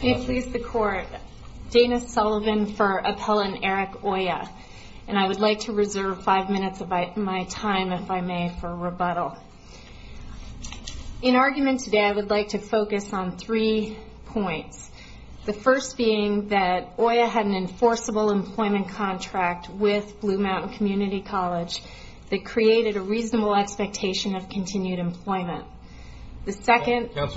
May it please the Court, Dana Sullivan for Appellant Eric Oya, and I would like to reserve five minutes of my time, if I may, for rebuttal. In argument today, I would like to focus on three points. The first being that Oya had an enforceable employment contract with Blue Mountain Community College that created a reasonable expectation of continued employment. The second point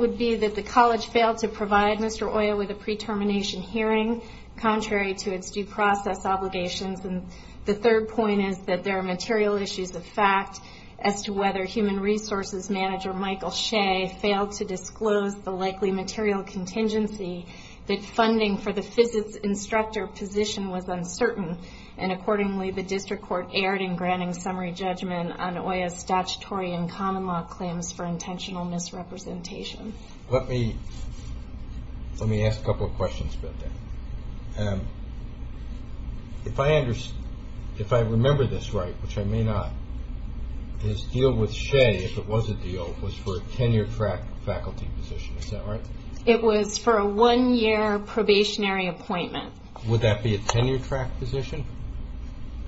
would be that the college failed to provide Mr. Oya with a pre-termination hearing, contrary to its due process obligations. The third point is that there are material issues of fact as to whether Human Resources Manager Michael Shea failed to disclose the likely material contingency, that funding for the Physic Instructor position was uncertain, and accordingly, the District Court erred in granting summary judgment on Oya's statutory and common law claims for intentional misrepresentation. Let me ask a couple of questions about that. If I remember this right, which I may not, this deal with Shea, if it was a deal, was for a tenure-track faculty position, is that right? It was for a one-year probationary appointment. Would that be a tenure-track position?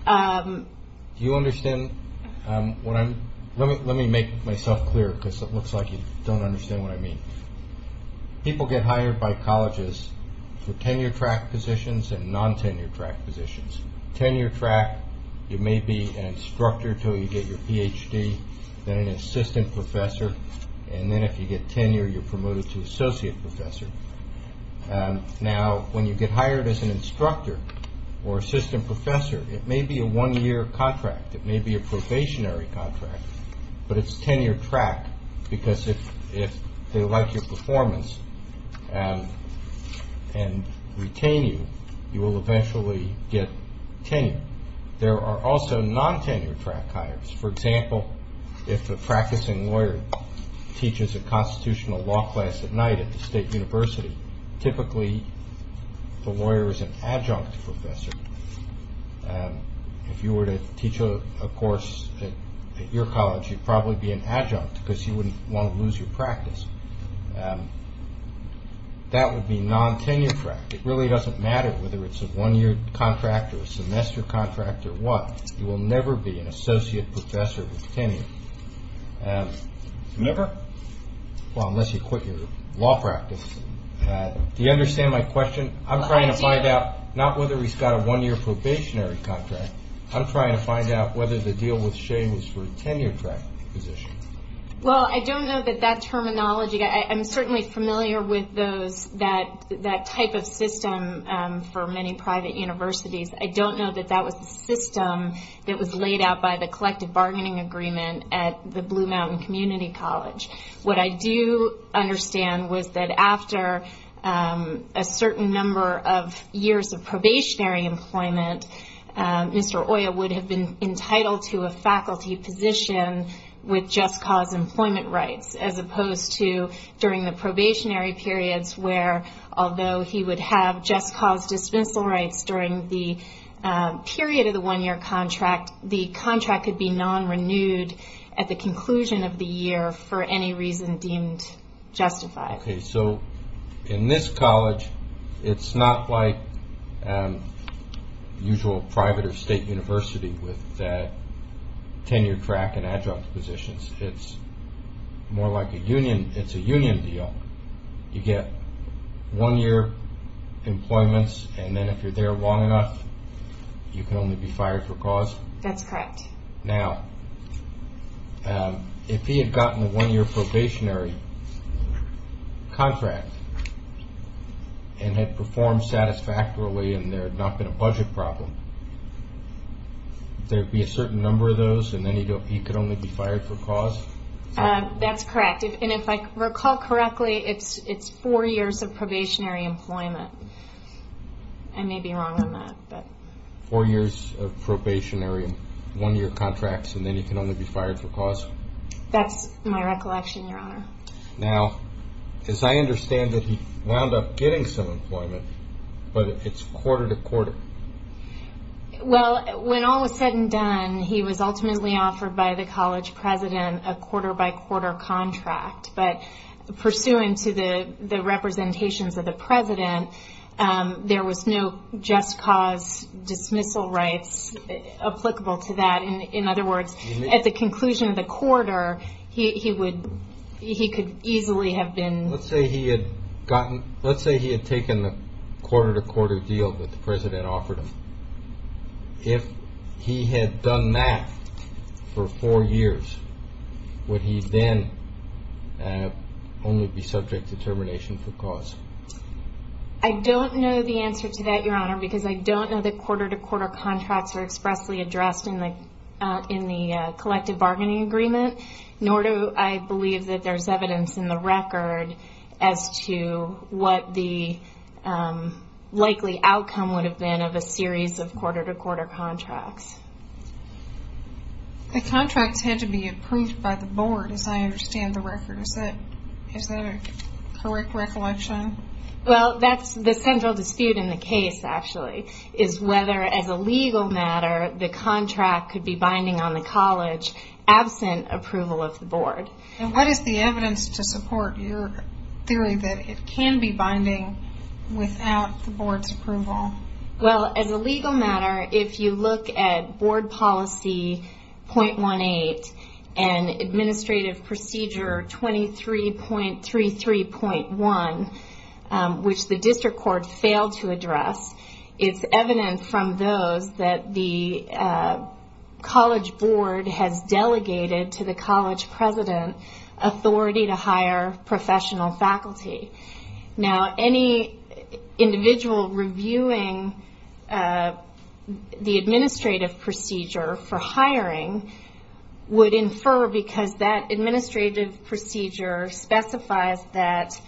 Do you understand? Let me make myself clear, because it looks like you don't understand what I mean. People get hired by colleges for tenure-track positions and non-tenure-track positions. Tenure-track, you may be an instructor until you get your PhD, then an assistant professor, and then if you get tenure, you're promoted to associate professor. Now, when you get hired as an instructor or assistant professor, it may be a one-year contract, it may be a probationary contract, but it's tenure-track, because if they like your performance and retain you, you will eventually get tenure. There are also non-tenure-track hires. For example, if a practicing lawyer teaches a constitutional law class at night at the state university, typically the lawyer is an adjunct professor. If you were to teach a course at your college, you'd probably be an adjunct, because you wouldn't want to lose your practice. That would be non-tenure-track. It really doesn't matter whether it's a one-year contract or a semester contract or what. You will never be an associate professor with tenure. Never? Well, unless you quit your law practice. Do you understand my question? I'm trying to find out not whether he's got a one-year probationary contract. I'm trying to find out whether the deal with Shane was for a tenure-track position. Well, I don't know that that terminology... I'm certainly familiar with that type of system for many private universities. I don't know that that was the system that was laid out by the collective bargaining agreement at the Blue Mountain Community College. What I do understand was that after a certain number of years of probationary employment, Mr. Oya would have been entitled to a faculty position with just-cause employment rights, as opposed to during the probationary periods where, although he would have just-cause dispensal rights during the period of the one-year contract, the contract could be non-renewed at the conclusion of the year for any reason deemed justified. Okay, so in this college, it's not like the usual private or state university with that tenure-track and adjunct positions. It's more like a union. It's a union deal. You get one-year employments, and then if you're there long enough, you can only be fired for cause? That's correct. Now, if he had gotten a one-year probationary contract and had performed satisfactorily and there had not been a budget problem, there would be a certain number of those, and then he could only be fired for cause? That's correct, and if I recall correctly, it's four years of probationary employment. I may be wrong on that. Four years of probationary, one-year contracts, and then he can only be fired for cause? That's my recollection, Your Honor. Now, as I understand it, he wound up getting some employment, but it's quarter-to-quarter. Well, when all was said and done, he was ultimately offered by the college president a quarter-by-quarter contract, but pursuant to the representations of the president, there was no just-cause dismissal rights applicable to that. In other words, at the conclusion of the quarter, he could easily have been... Let's say he had taken the quarter-to-quarter deal that the president offered him. If he had done that for four years, would he then only be subject to termination for cause? I don't know the answer to that, Your Honor, because I don't know that quarter-to-quarter contracts are expressly addressed in the collective bargaining agreement, nor do I believe that there's evidence in the record as to what the likely outcome would have been of a series of quarter-to-quarter contracts. The contracts had to be approved by the board, as I understand the record. Is that a correct recollection? Well, that's the central dispute in the case, actually, is whether, as a legal matter, the contract could be binding on the college absent approval of the board. What is the evidence to support your theory that it can be binding without the board's approval? Well, as a legal matter, if you look at board policy .18 and administrative procedure 23.33.1, which the district court failed to address, it's evident from those that the college board has delegated to the college president authority to hire professional faculty. Now, any individual reviewing the administrative procedure for hiring would infer, because that administrative procedure specifies that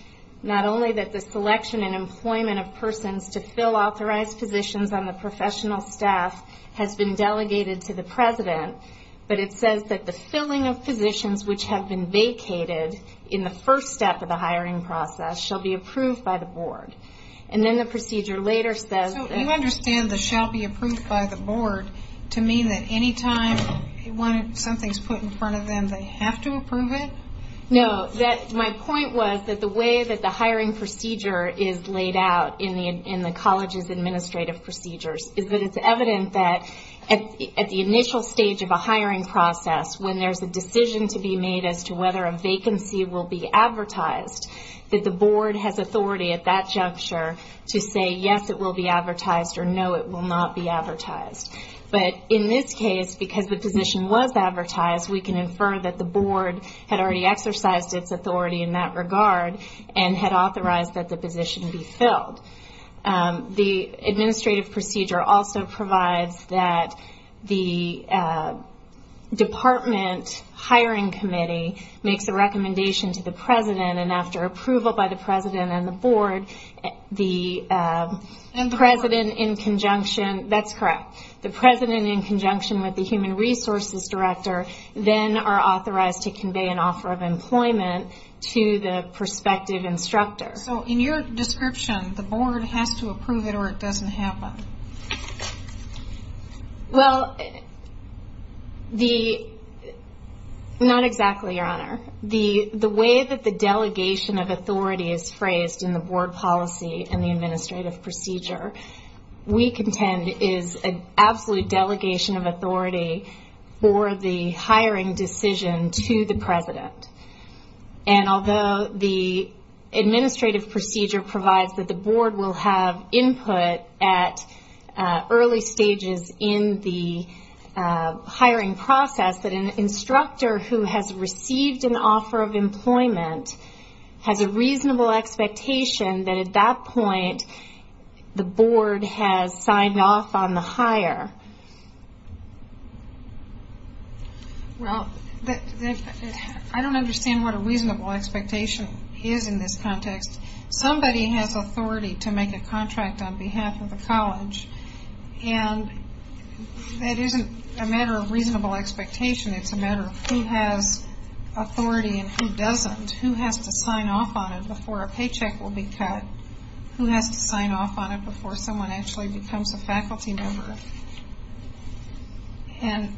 not only that the selection and employment of persons to fill authorized positions on the professional staff has been delegated to the president, but it says that the filling of positions which have been vacated in the first step of the hiring process shall be approved by the board. And then the procedure later says that... So you understand the shall be approved by the board to mean that any time something's put in front of them, they have to approve it. My point was that the way that the hiring procedure is laid out in the college's administrative procedures is that it's evident that at the initial stage of a hiring process, when there's a decision to be made as to whether a vacancy will be advertised, that the board has authority at that juncture to say, yes, it will be advertised, or no, it will not be advertised. But in this case, because the position was advertised, we can infer that the board had already exercised its authority in that regard and had authorized that the position be filled. The administrative procedure also provides that the department hiring committee makes a recommendation to the president, and after approval by the president and the board, the president in conjunction... That's correct. The president in conjunction with the human resources director then are authorized to convey an offer of employment to the prospective instructor. So in your description, the board has to approve it or it doesn't happen? Well, not exactly, Your Honor. The way that the delegation of authority is phrased in the board policy and the administrative procedure, we contend is an absolute delegation of authority for the hiring decision to the president. And although the administrative procedure provides that the board will have input at early stages in the hiring process, that an instructor who has received an offer of employment has a reasonable expectation that at that point, the board has signed off on the hire. Well, I don't understand what a reasonable expectation is in this context. Somebody has authority to make a contract on behalf of the college, and that isn't a matter of reasonable expectation. It's a matter of who has authority and who doesn't. Who has to sign off on it before a paycheck will be cut? Who has to sign off on it before someone actually becomes a faculty member? And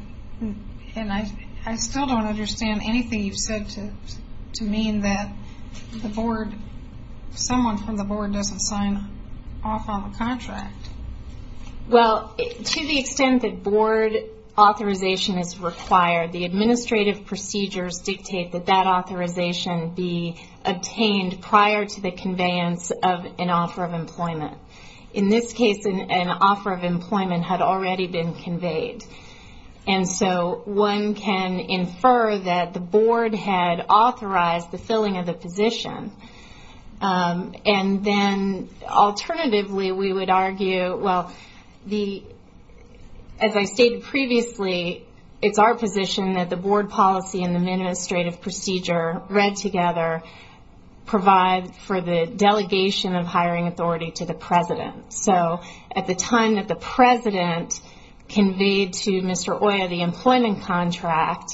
I still don't understand anything you've said to mean that the board, someone from the board doesn't sign off on the contract. Well, to the extent that board authorization is required, the administrative procedures dictate that that authorization be obtained prior to the conveyance of an offer of employment. In this case, an offer of employment had already been conveyed. And so, one can infer that the the, as I stated previously, it's our position that the board policy and the administrative procedure read together provide for the delegation of hiring authority to the president. So, at the time that the president conveyed to Mr. Oya the employment contract,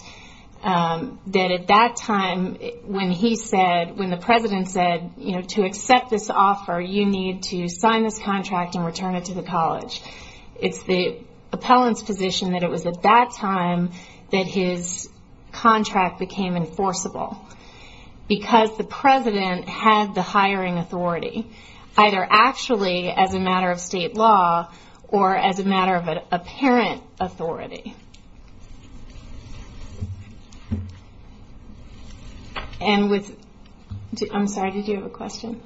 that at that time, when he said, when the president said, you know, to accept this offer, you need to sign this contract and return it to the college, it's the appellant's position that it was at that time that his contract became enforceable. Because the president had the hiring authority, either actually as a matter of state law, or as a matter of apparent authority. And with, I'm sorry, did you have a question?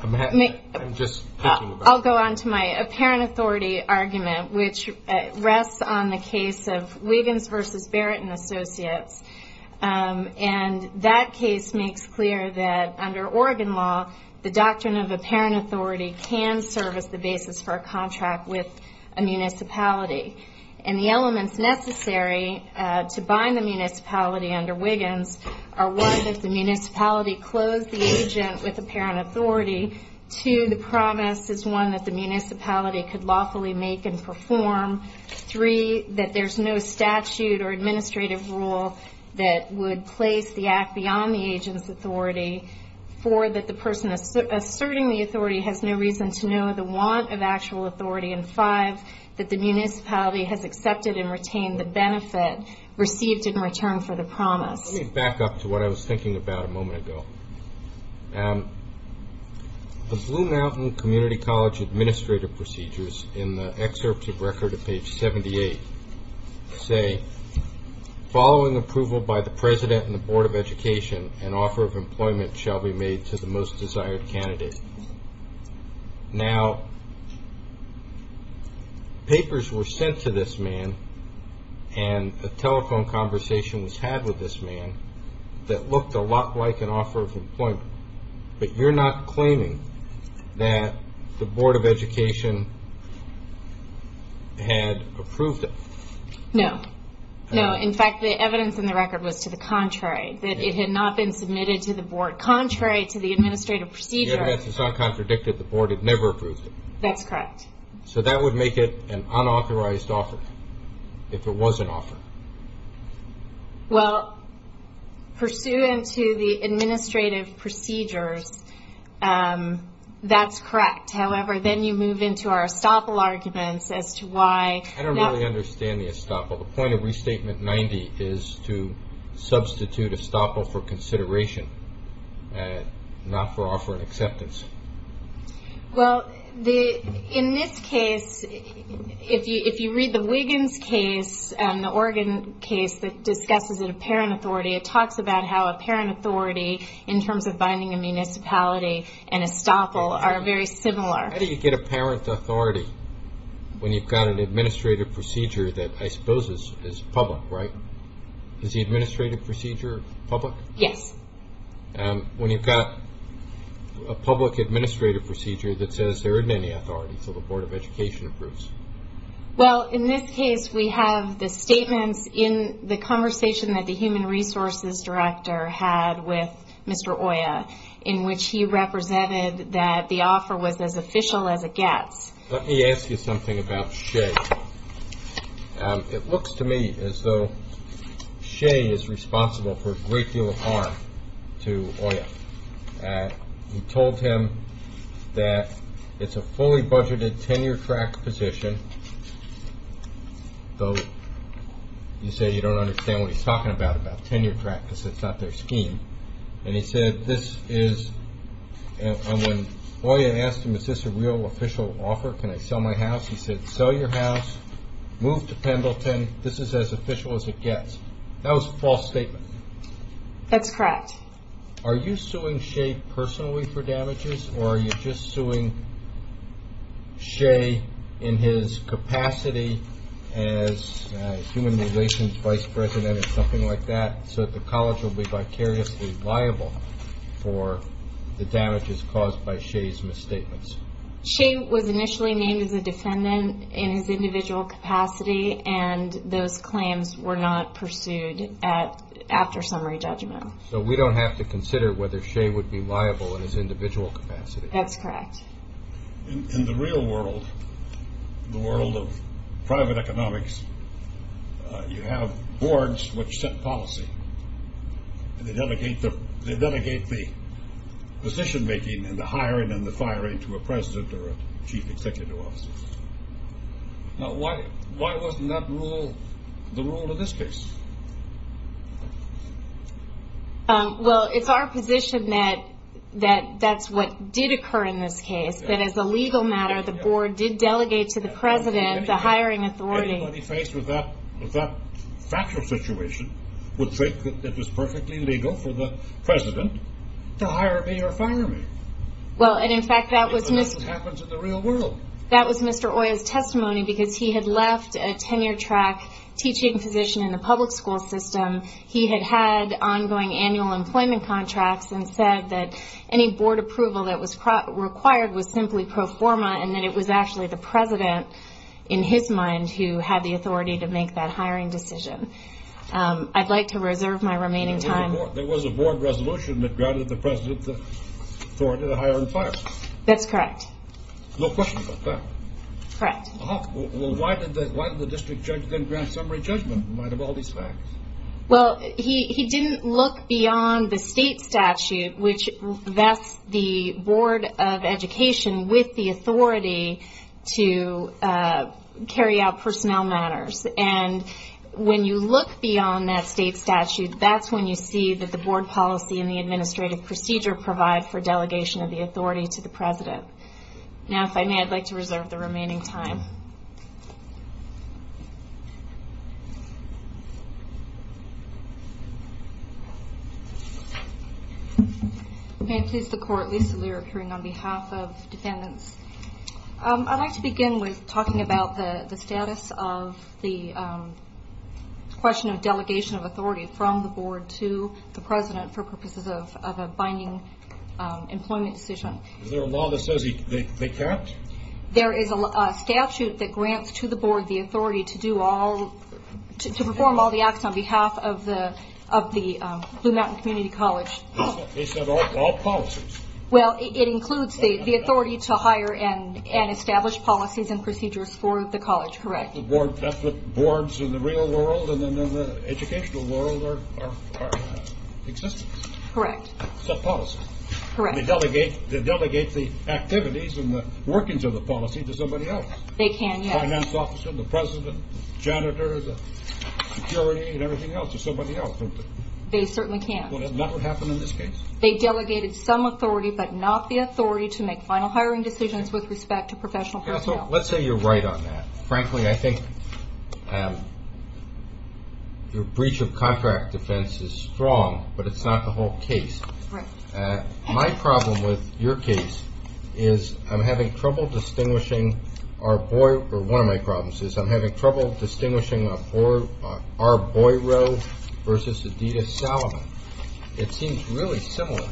I'll go on to my apparent authority argument, which rests on the case of Wiggins versus Barrett & Associates. And that case makes clear that under Oregon law, the doctrine of apparent authority can serve as the basis for a contract with a municipality. And the elements necessary to bind the municipality under Wiggins are, one, that the municipality close the agent with apparent authority. Two, the promise is, one, that the municipality could lawfully make and perform. Three, that there's no statute or administrative rule that would place the act beyond the agent's authority. Four, that the authority has no reason to know the want of actual authority. And five, that the municipality has accepted and retained the benefit received in return for the promise. Let me back up to what I was thinking about a moment ago. The Blue Mountain Community College administrative procedures in the excerpt of record at page 78 say, following approval by the president and the board of education, an offer of employment shall be made to the most desired candidate. Now, papers were sent to this man and a telephone conversation was had with this man that looked a lot like an offer of employment. But you're not claiming that the board of education had approved it. No. No. In fact, the evidence in the record was to the contrary, that it had not been submitted to the board. Contrary to the administrative procedure. The evidence is not contradicted. The board had never approved it. That's correct. So that would make it an unauthorized offer if it was an offer. Well, pursuant to the administrative procedures, that's correct. However, then you move into our estoppel arguments as to why. I don't really understand the estoppel. The point of Restatement 90 is to substitute estoppel for consideration, not for offer and acceptance. Well, in this case, if you read the Wiggins case, the Oregon case that discusses apparent authority, it talks about how apparent authority in terms of binding a municipality and estoppel are very similar. How do you get apparent authority when you've got an administrative procedure that I suppose is public, right? Is the administrative procedure public? Yes. When you've got a public administrative procedure that says there isn't any authority, so the board of education approves. Well, in this case, we have the statements in the conversation that the human resources director had with Mr. Oya, in which he represented that the offer was as official as it gets. Let me ask you something about Shea. It looks to me as though Shea is responsible for a great deal of harm to Oya. You told him that it's a fully budgeted tenure track position, though you say you don't understand what he's talking about, tenure track, because it's not their scheme. When Oya asked him, is this a real official offer? Can I sell my house? He said, sell your house, move to Pendleton. This is as official as it gets. That was a false statement. That's correct. Are you suing Shea personally for damages, or are you just suing Shea in his capacity as human relations vice president or something like that, so that the college will be vicariously liable for the damages caused by Shea's misstatements? Shea was initially named as a defendant in his individual capacity, and those claims were not pursued after summary judgment. So we don't have to consider whether Shea would be liable in his individual capacity? That's correct. In the real world, the world of private economics, you have boards which set policy, and they delegate the position making and the hiring and the firing to a president or a chief executive officer. Now, why wasn't that rule the rule in this case? Well, it's our position that that's what did occur in this case, that as a legal matter, the board did delegate to the president the hiring authority. Anybody faced with that factual situation would think that it was perfectly legal for the president to hire me or fire me. Well, and in fact, that was Mr. Oya's testimony, because he had left a tenure track teaching position in the public school system. He had had ongoing annual employment contracts and said that any board approval that was required was simply pro forma, and that it was actually the president, in his mind, who had the authority to make that hiring decision. I'd like to reserve my remaining time. There was a board resolution that granted the president the authority to hire and fire? That's correct. No questions about that? Correct. Well, why did the district judge then grant summary judgment in light of all these facts? Well, he didn't look beyond the state statute, which vests the board of education with the authority to carry out personnel matters. And when you look beyond that state statute, that's when you see that the board policy and the administrative procedure provide for delegation of the authority to the president. Now, if I may, I'd like to reserve the remaining time. May it please the court, Lisa Lear, appearing on behalf of defendants. I'd like to begin with talking about the status of the question of delegation of authority from the board to the president for purposes of a binding employment decision. Is there a law that says they can't? There is a statute that grants to the board the authority to perform all the acts on behalf of the Blue Mountain Community College. They said all policies? Well, it includes the authority to hire and establish policies and procedures for the college. Correct. The boards in the real world and in the educational world are existent? Correct. Sub-policy? Correct. They delegate the activities and the workings of the policy to somebody else? They can, yes. The finance officer, the president, the janitor, the security, and everything else to somebody else. They certainly can't. That would never happen in this case. They delegated some authority, but not the authority to make final hiring decisions with respect to professional personnel. Let's say you're right on that. Frankly, I think your breach of contract defense is strong, but it's not the whole case. Correct. My problem with your case is I'm having trouble distinguishing Arboiro versus Adidas Salomon. It seems really similar.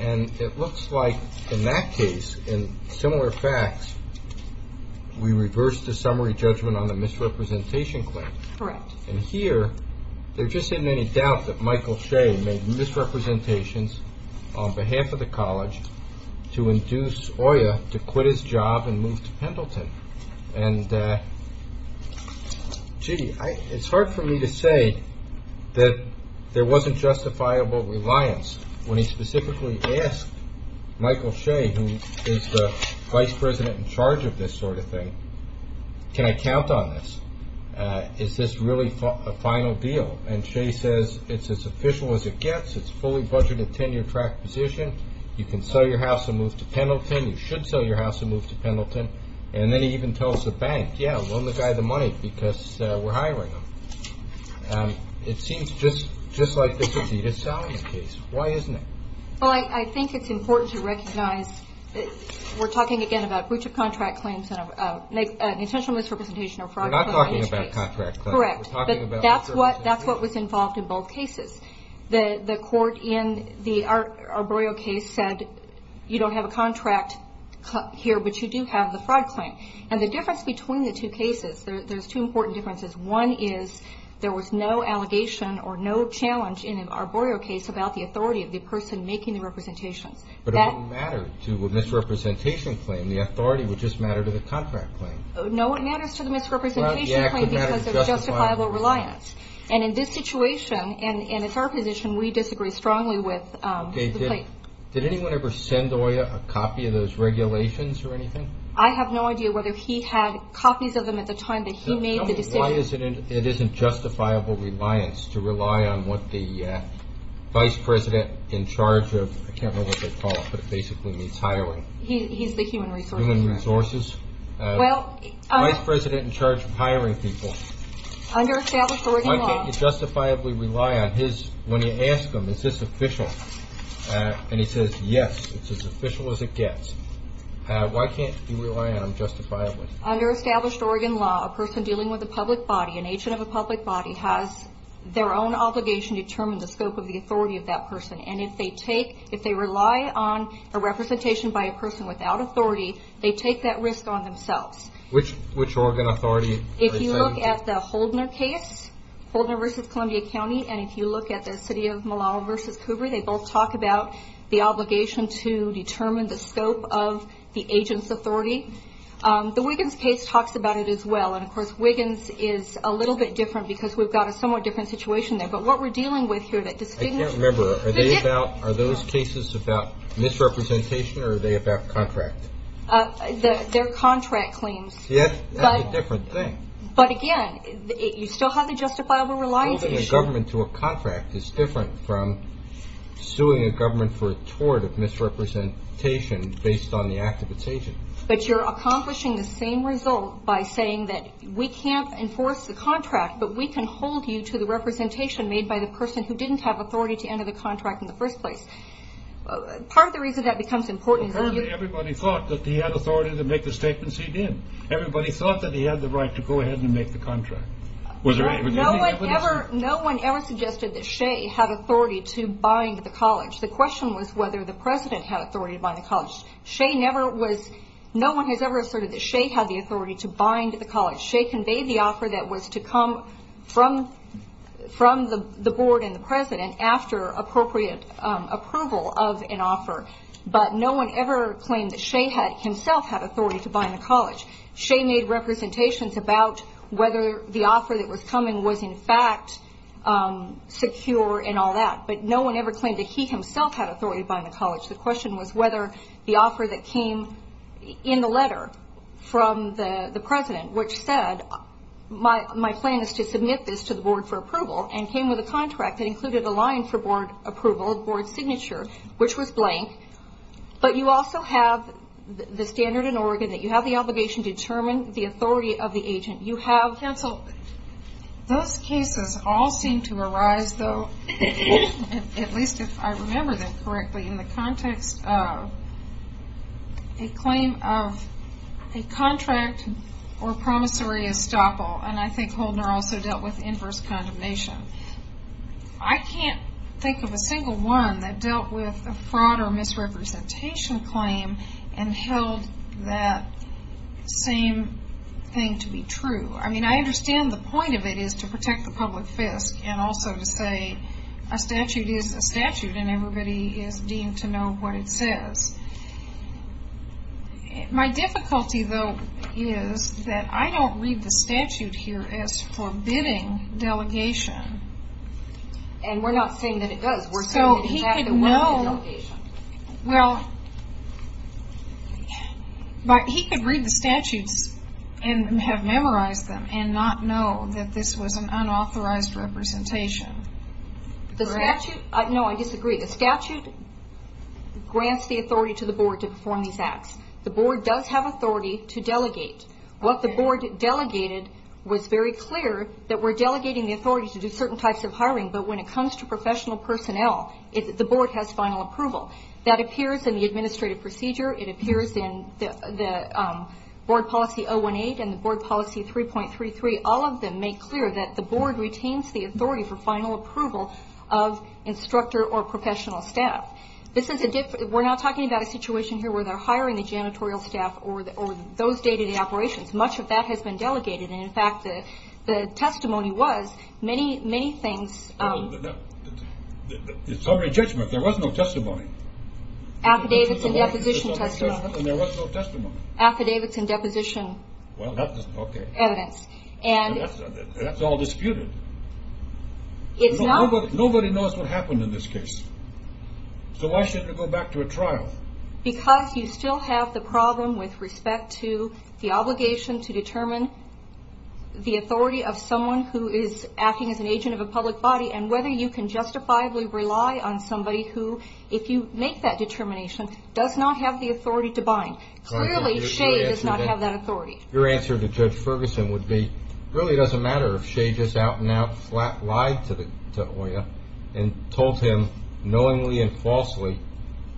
It looks like in that case, in similar facts, we reversed the summary judgment on the misrepresentation claim. Correct. Here, there just isn't any doubt that Michael Shea made misrepresentations on behalf of the college to induce Oya to quit his job and move to Pendleton. It's hard for me to say that there wasn't justifiable reliance when he specifically asked Michael Shea, who is the vice president in charge of this sort of thing, can I count on this? Is this really a final deal? Shea says it's as official as it gets. It's fully budgeted tenure track position. You can sell your house and move to Pendleton. You should sell your house and move to Pendleton. Then he even tells the bank, yeah, loan the guy the money because we're hiring him. It seems just like this Adidas Salomon case. Why isn't it? I think it's important to recognize that we're talking again about breach of contract claims and an intentional misrepresentation of fraud. We're not talking about contract claims. That's what was involved in both cases. The court in the Arborio case said you don't have a contract here, but you do have the fraud claim. The difference between the two cases, there's two important differences. One is there was no allegation or no challenge in an Arborio case about the authority of the person making the representations. But it wouldn't matter to a misrepresentation claim. The authority would just matter to the contract claim. No, it matters to the misrepresentation claim because of justifiable reliance. And in this situation, and it's our position, we disagree strongly with the plaintiff. Did anyone ever send Oya a copy of those regulations or anything? I have no idea whether he had copies of them at the time that he made the decision. It isn't justifiable reliance to rely on what the vice president in charge of, I can't remember what they call it, but it basically means hiring. He's the human resource. Human resources. Vice president in charge of hiring people. Under established Oregon law. Why can't you justifiably rely on his, when you ask him, is this official? And he says, yes, it's as official as it gets. Why can't you rely on him justifiably? Under established Oregon law, a person dealing with a public body, an agent of a public body, has their own obligation to determine the scope of the authority of that person. And if they take, if they rely on a representation by a person without authority, they take that risk on themselves. Which Oregon authority? If you look at the Holdner case, Holdner v. Columbia County, and if you look at the city of Millau v. Coober, they both talk about the obligation to determine the scope of the agent's authority. The Wiggins case talks about it as well. And of course, Wiggins is a little bit different because we've got a somewhat different situation there. But what we're dealing with here that distinguishes- I can't remember, are those cases about misrepresentation or are they about contract? They're contract claims. Yes, that's a different thing. But again, you still have the justifiable reliance issue. Holding a government to a contract is different from suing a government for a tort of misrepresentation based on the act of its agent. But you're accomplishing the same result by saying that we can't enforce the contract, but we can hold you to the representation made by the person who didn't have authority to enter the contract in the first place. Part of the reason that becomes important is that you- he had authority to make the statements he did. Everybody thought that he had the right to go ahead and make the contract. No one ever suggested that Shea had authority to bind the college. The question was whether the president had authority to bind the college. Shea never was- no one has ever asserted that Shea had the authority to bind the college. Shea conveyed the offer that was to come from the board and the president after appropriate approval of an offer. But no one ever claimed that Shea himself had authority to bind the college. Shea made representations about whether the offer that was coming was, in fact, secure and all that. But no one ever claimed that he himself had authority to bind the college. The question was whether the offer that came in the letter from the president, which said, my plan is to submit this to the board for approval, and came with a contract that included a line for board approval, board signature, which was blank. But you also have the standard in Oregon that you have the obligation to determine the authority of the agent. You have- Counsel, those cases all seem to arise, though, at least if I remember them correctly, in the context of a claim of a contract or promissory estoppel. And I think Holden also dealt with inverse condemnation. I can't think of a single one that dealt with a fraud or misrepresentation claim and held that same thing to be true. I mean, I understand the point of it is to protect the public fisc and also to say a statute is a statute and everybody is deemed to know what it says. My difficulty, though, is that I don't read the statute here as forbidding delegation. And we're not saying that it does. We're saying that it's an act that wouldn't be a delegation. Well, but he could read the statutes and have memorized them and not know that this was an unauthorized representation. The statute- No, I disagree. The statute grants the authority to the board to perform these acts. The board does have authority to delegate. What the board delegated was very clear that we're delegating the authority to do certain types of hiring. But when it comes to professional personnel, the board has final approval. That appears in the administrative procedure. It appears in the board policy 018 and the board policy 3.33. All of them make clear that the board retains the authority for final approval of instructor or professional staff. We're not talking about a situation here where they're hiring the janitorial staff or those day-to-day operations. Much of that has been delegated. In fact, the testimony was many, many things- It's already judgment. There was no testimony. Affidavits and deposition testimony. There was no testimony. Affidavits and deposition evidence. That's all disputed. Nobody knows what happened in this case. So why shouldn't it go back to a trial? Because you still have the problem with respect to the obligation to determine the authority of someone who is acting as an agent of a public body and whether you can justifiably rely on somebody who, if you make that determination, does not have the authority to bind. Clearly, Shea does not have that authority. Your answer to Judge Ferguson would be, it really doesn't matter if Shea just out and out flat lied to Oya and told him knowingly and falsely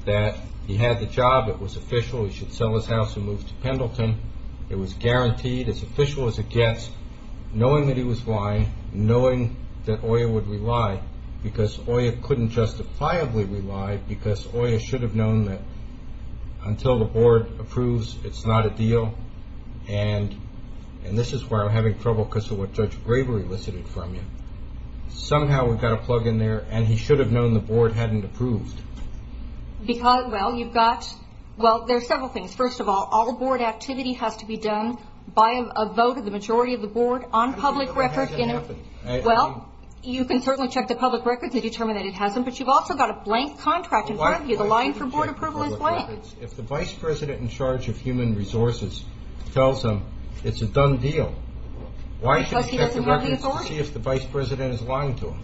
that he had the job. It was official. He should sell his house and move to Pendleton. It was guaranteed. As official as it gets, knowing that he was lying, knowing that Oya would rely because Oya couldn't justifiably rely because Oya should have known that until the board approves, it's not a deal. And this is where I'm having trouble because of what Judge Bravery listed from you. Somehow, we've got a plug in there and he should have known the board hadn't approved. Because, well, you've got- Well, there's several things. First of all, all board activity has to be done by a vote of the majority of the board on public record. Well, you can certainly check the public records and determine that it hasn't. But you've also got a blank contract in front of you. The line for board approval is blank. If the vice president in charge of human resources tells him it's a done deal, why should he check the records to see if the vice president is lying to him?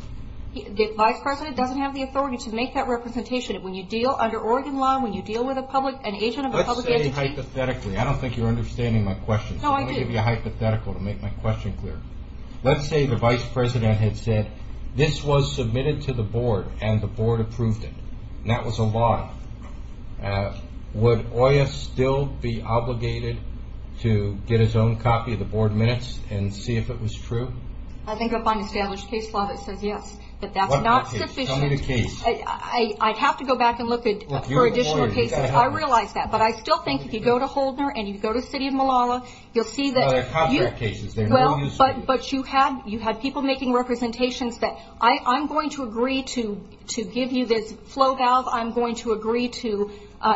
The vice president doesn't have the authority to make that representation. When you deal under Oregon law, when you deal with a public, let's say hypothetically, I don't think you're understanding my question. No, I do. I'm going to give you a hypothetical to make my question clear. Let's say the vice president had said, this was submitted to the board and the board approved it. And that was a lie. Would Oya still be obligated to get his own copy of the board minutes and see if it was true? I think upon established case law, it says yes. But that's not sufficient. Tell me the case. I'd have to go back and look for additional cases. I realize that. But I still think if you go to Holdner and you go to the city of Malala, you'll see that... There are contract cases. They're no use to you. But you had people making representations that, I'm going to agree to give you this flow valve. I'm going to agree to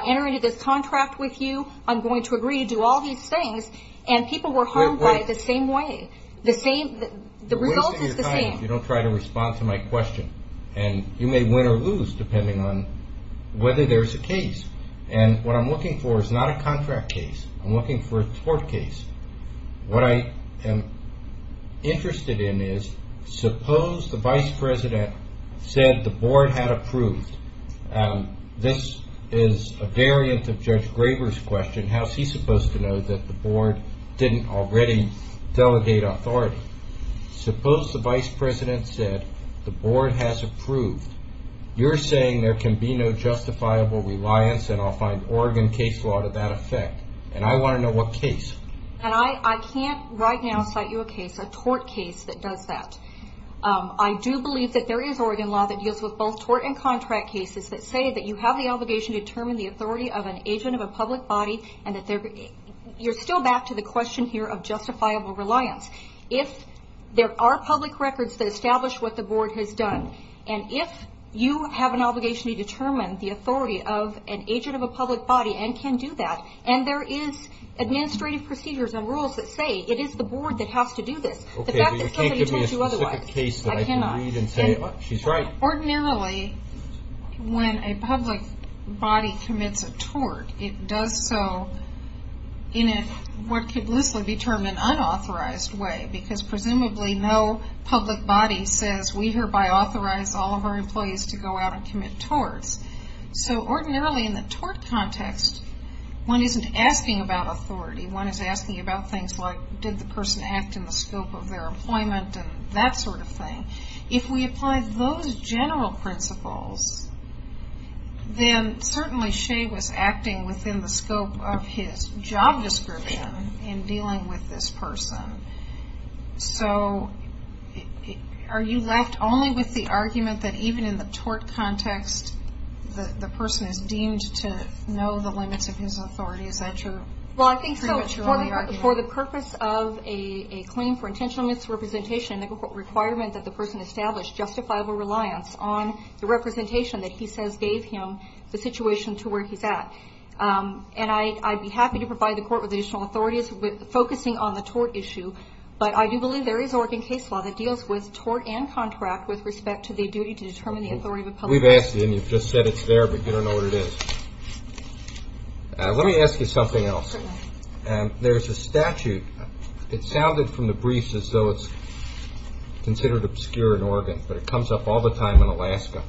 enter into this contract with you. I'm going to agree to do all these things. And people were harmed by the same way. The result is the same. You don't try to respond to my question. And you may win or lose depending on whether there's a case. And what I'm looking for is not a contract case. I'm looking for a tort case. What I am interested in is, suppose the vice president said the board had approved. This is a variant of Judge Graber's question. How is he supposed to know that the board didn't already delegate authority? Suppose the vice president said the board has approved. You're saying there can be no justifiable reliance. And I'll find Oregon case law to that effect. And I want to know what case. And I can't right now cite you a case, a tort case that does that. I do believe that there is Oregon law that deals with both tort and contract cases that say that you have the obligation to determine the authority of an agent of a public body. And that you're still back to the question here of justifiable reliance. If there are public records that establish what the board has done. And if you have an obligation to determine the authority of an agent of a public body and can do that. And there is administrative procedures and rules that say it is the board that has to do this. The fact that somebody told you otherwise. Okay, but you can't give me a specific case that I can read and say she's right. Ordinarily, when a public body commits a tort, it does so in what could loosely be termed an unauthorized way. Because presumably no public body says we hereby authorize all of our employees to go out and commit torts. So ordinarily in the tort context, one isn't asking about authority. One is asking about things like did the person act in the scope of their employment and that sort of thing. If we apply those general principles, then certainly Shea was acting within the scope of his job description in dealing with this person. So are you left only with the argument that even in the tort context, the person is deemed to know the limits of his authority? Is that true? Well, I think so for the purpose of a claim for intentional misrepresentation, the requirement that the person established justifiable reliance on the representation that he says gave him the situation to where he's at. And I'd be happy to provide the court with additional authorities focusing on the tort issue. But I do believe there is Oregon case law that deals with tort and contract with respect to the duty to determine the authority of a public body. We've asked and you've just said it's there, but you don't know what it is. Let me ask you something else. There's a statute. It sounded from the briefs as though it's considered obscure in Oregon, but it comes up all the time in Alaska.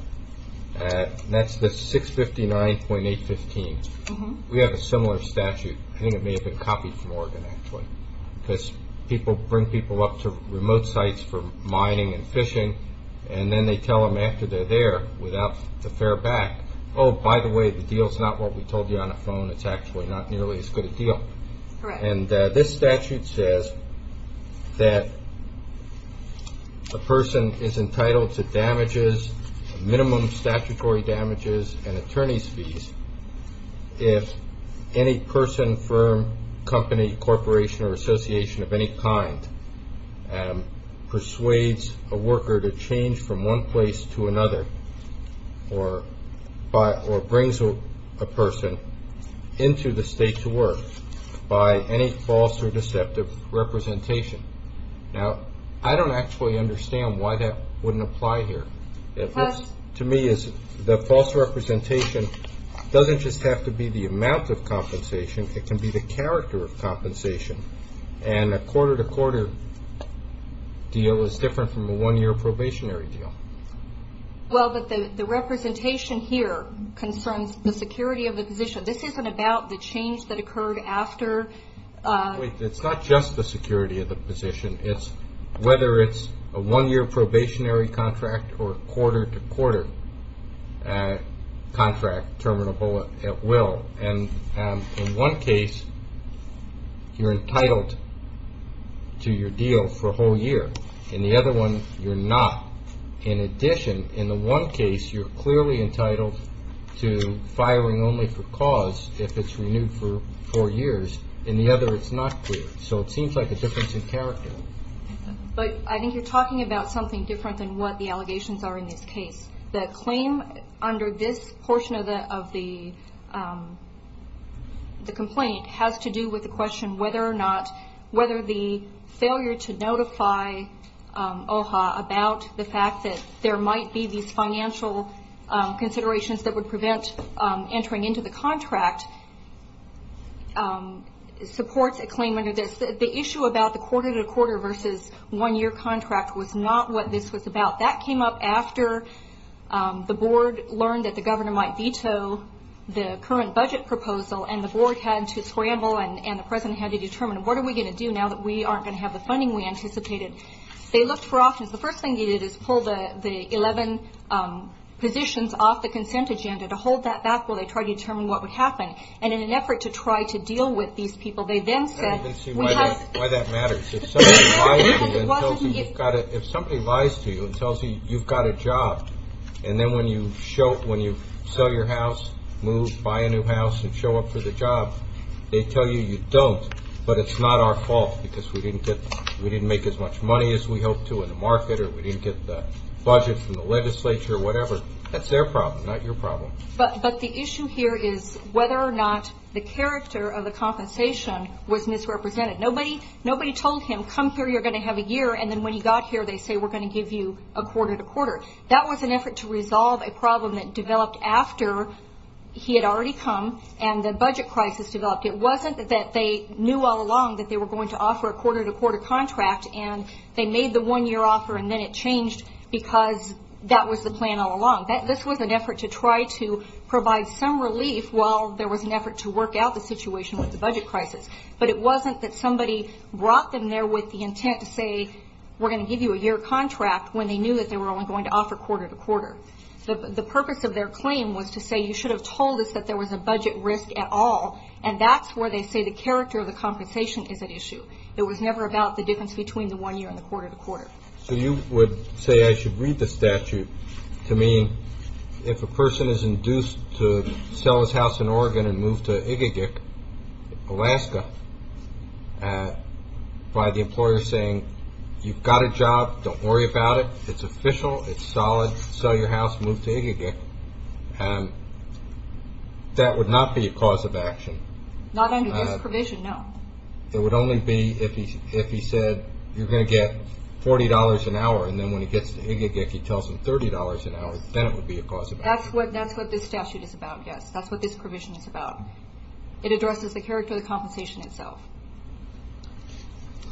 That's the 659.815. We have a similar statute. I think it may have been copied from Oregon, actually, because people bring people up to remote sites for mining and fishing, and then they tell them after they're there without the fair back, oh, by the way, the deal's not what we told you on the phone. It's actually not nearly as good a deal. And this statute says that a person is entitled to damages, minimum statutory damages and any person, firm, company, corporation or association of any kind persuades a worker to change from one place to another or brings a person into the state to work by any false or deceptive representation. Now, I don't actually understand why that wouldn't apply here. To me, the false representation doesn't just have to be the amount of compensation. It can be the character of compensation. And a quarter-to-quarter deal is different from a one-year probationary deal. Well, but the representation here concerns the security of the position. This isn't about the change that occurred after. It's not just the security of the position. Whether it's a one-year probationary contract or a quarter-to-quarter contract, terminable at will. And in one case, you're entitled to your deal for a whole year. In the other one, you're not. In addition, in the one case, you're clearly entitled to firing only for cause if it's renewed for four years. In the other, it's not clear. So it seems like a difference in character. But I think you're talking about something different than what the allegations are in this case. The claim under this portion of the complaint has to do with the question whether the failure to notify OHA about the fact that there might be these financial considerations that would The issue about the quarter-to-quarter versus one-year contract was not what this was about. That came up after the board learned that the governor might veto the current budget proposal and the board had to scramble and the president had to determine, what are we going to do now that we aren't going to have the funding we anticipated? They looked for options. The first thing they did is pull the 11 positions off the consent agenda to hold that back while they tried to determine what would happen. And in an effort to try to deal with these people, they then said... I don't even see why that matters. If somebody lies to you and tells you you've got a job and then when you sell your house, move, buy a new house and show up for the job, they tell you you don't, but it's not our fault because we didn't make as much money as we hoped to in the market or we didn't get the budget from the legislature or whatever. That's their problem, not your problem. But the issue here is whether or not the character of the compensation was misrepresented. Nobody told him, come here, you're going to have a year and then when you got here, they say we're going to give you a quarter to quarter. That was an effort to resolve a problem that developed after he had already come and the budget crisis developed. It wasn't that they knew all along that they were going to offer a quarter to quarter contract and they made the one year offer and then it changed because that was the plan all along. This was an effort to try to provide some relief while there was an effort to work out the situation with the budget crisis, but it wasn't that somebody brought them there with the intent to say we're going to give you a year contract when they knew that they were only going to offer quarter to quarter. The purpose of their claim was to say you should have told us that there was a budget risk at all and that's where they say the character of the compensation is at issue. It was never about the difference between the one year and the quarter to quarter. So you would say I should read the statute to mean if a person is induced to sell his house in Oregon and move to Igigic, Alaska, by the employer saying you've got a job, don't worry about it, it's official, it's solid, sell your house, move to Igigic, that would not be a cause of action? Not under this provision, no. It would only be if he said you're going to get $40 an hour and then when he gets to Igigic he tells him $30 an hour, then it would be a cause of action? That's what this statute is about, yes. That's what this provision is about. It addresses the character of the compensation itself.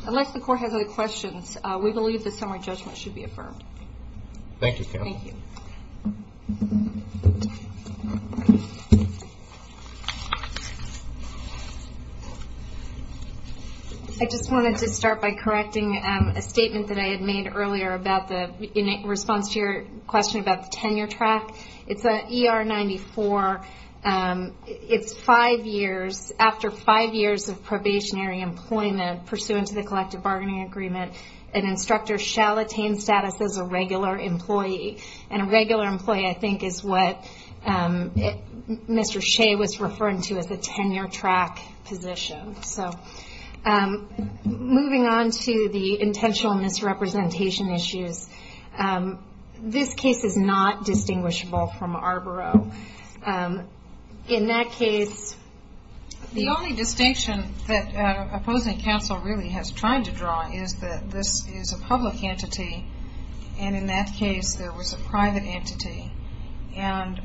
Unless the court has other questions, we believe the summary judgment should be affirmed. Thank you, Kamal. Thank you. I just wanted to start by correcting a statement that I had made earlier in response to your question about the tenure track. It's an ER 94, it's five years, after five years of probationary employment pursuant to the collective bargaining agreement, an instructor shall attain status as a regular employee. And a regular employee I think is what Mr. Shea was referring to as a tenure track position. Moving on to the intentional misrepresentation issues, this case is not distinguishable from Arboro. In that case, the only distinction that opposing counsel really has tried to draw is that this is a public entity and in that case there was a private entity. And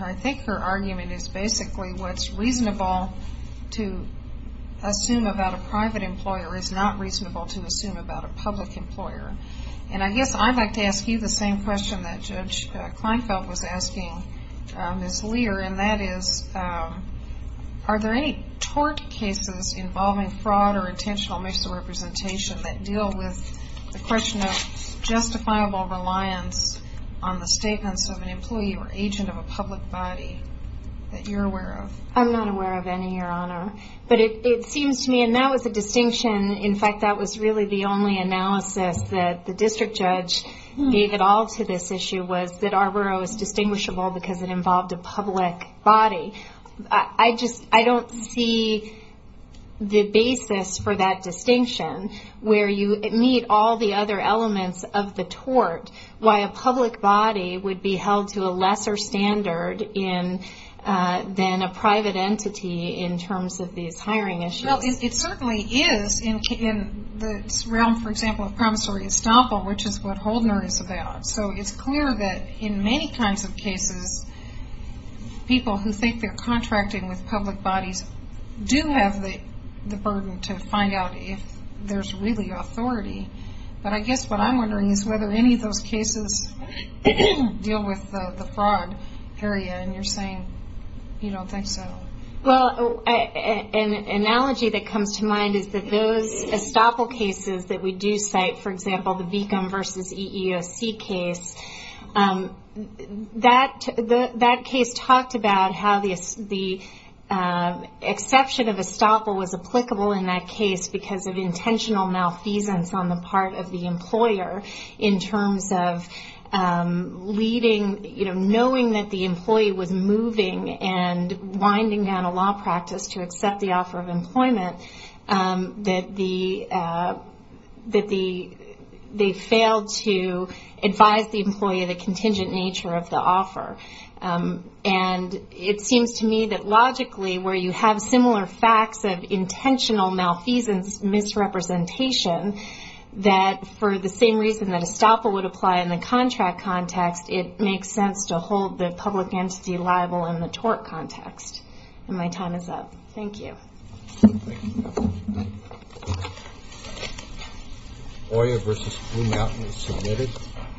I think her argument is basically what's reasonable to assume about a private employer is not reasonable to assume about a public employer. And I guess I'd like to ask you the same question that Judge Kleinfeld was asking Ms. Lear and that is, are there any tort cases involving fraud or intentional misrepresentation that deal with the question of justifiable reliance on the statements of an employee or agent of a public body that you're aware of? I'm not aware of any, Your Honor. But it seems to me, and that was the distinction, in fact that was really the only analysis that the district judge gave it all to this issue was that Arboro is distinguishable because it involved a public body. I just, I don't see the basis for that distinction where you meet all the other elements of the tort why a public body would be held to a lesser standard than a private entity in terms of these hiring issues. Well, it certainly is in the realm, for example, of promissory estoppel, which is what Holdner is about. So it's clear that in many kinds of cases, people who think they're contracting with public bodies do have the burden to find out if there's really authority. But I guess what I'm wondering is whether any of those cases deal with the fraud area and you're saying you don't think so. Well, an analogy that comes to mind is that those estoppel cases that we do cite, for example, the Arboro case, that case talked about how the exception of estoppel was applicable in that case because of intentional malfeasance on the part of the employer in terms of leading, knowing that the employee was moving and winding down a law practice to accept the offer of the employer, the contingent nature of the offer. And it seems to me that logically where you have similar facts of intentional malfeasance misrepresentation, that for the same reason that estoppel would apply in the contract context, it makes sense to hold the public entity liable in the tort context. And my time is up. Thank you. Thank you. Oya versus Blue Mountain is submitted.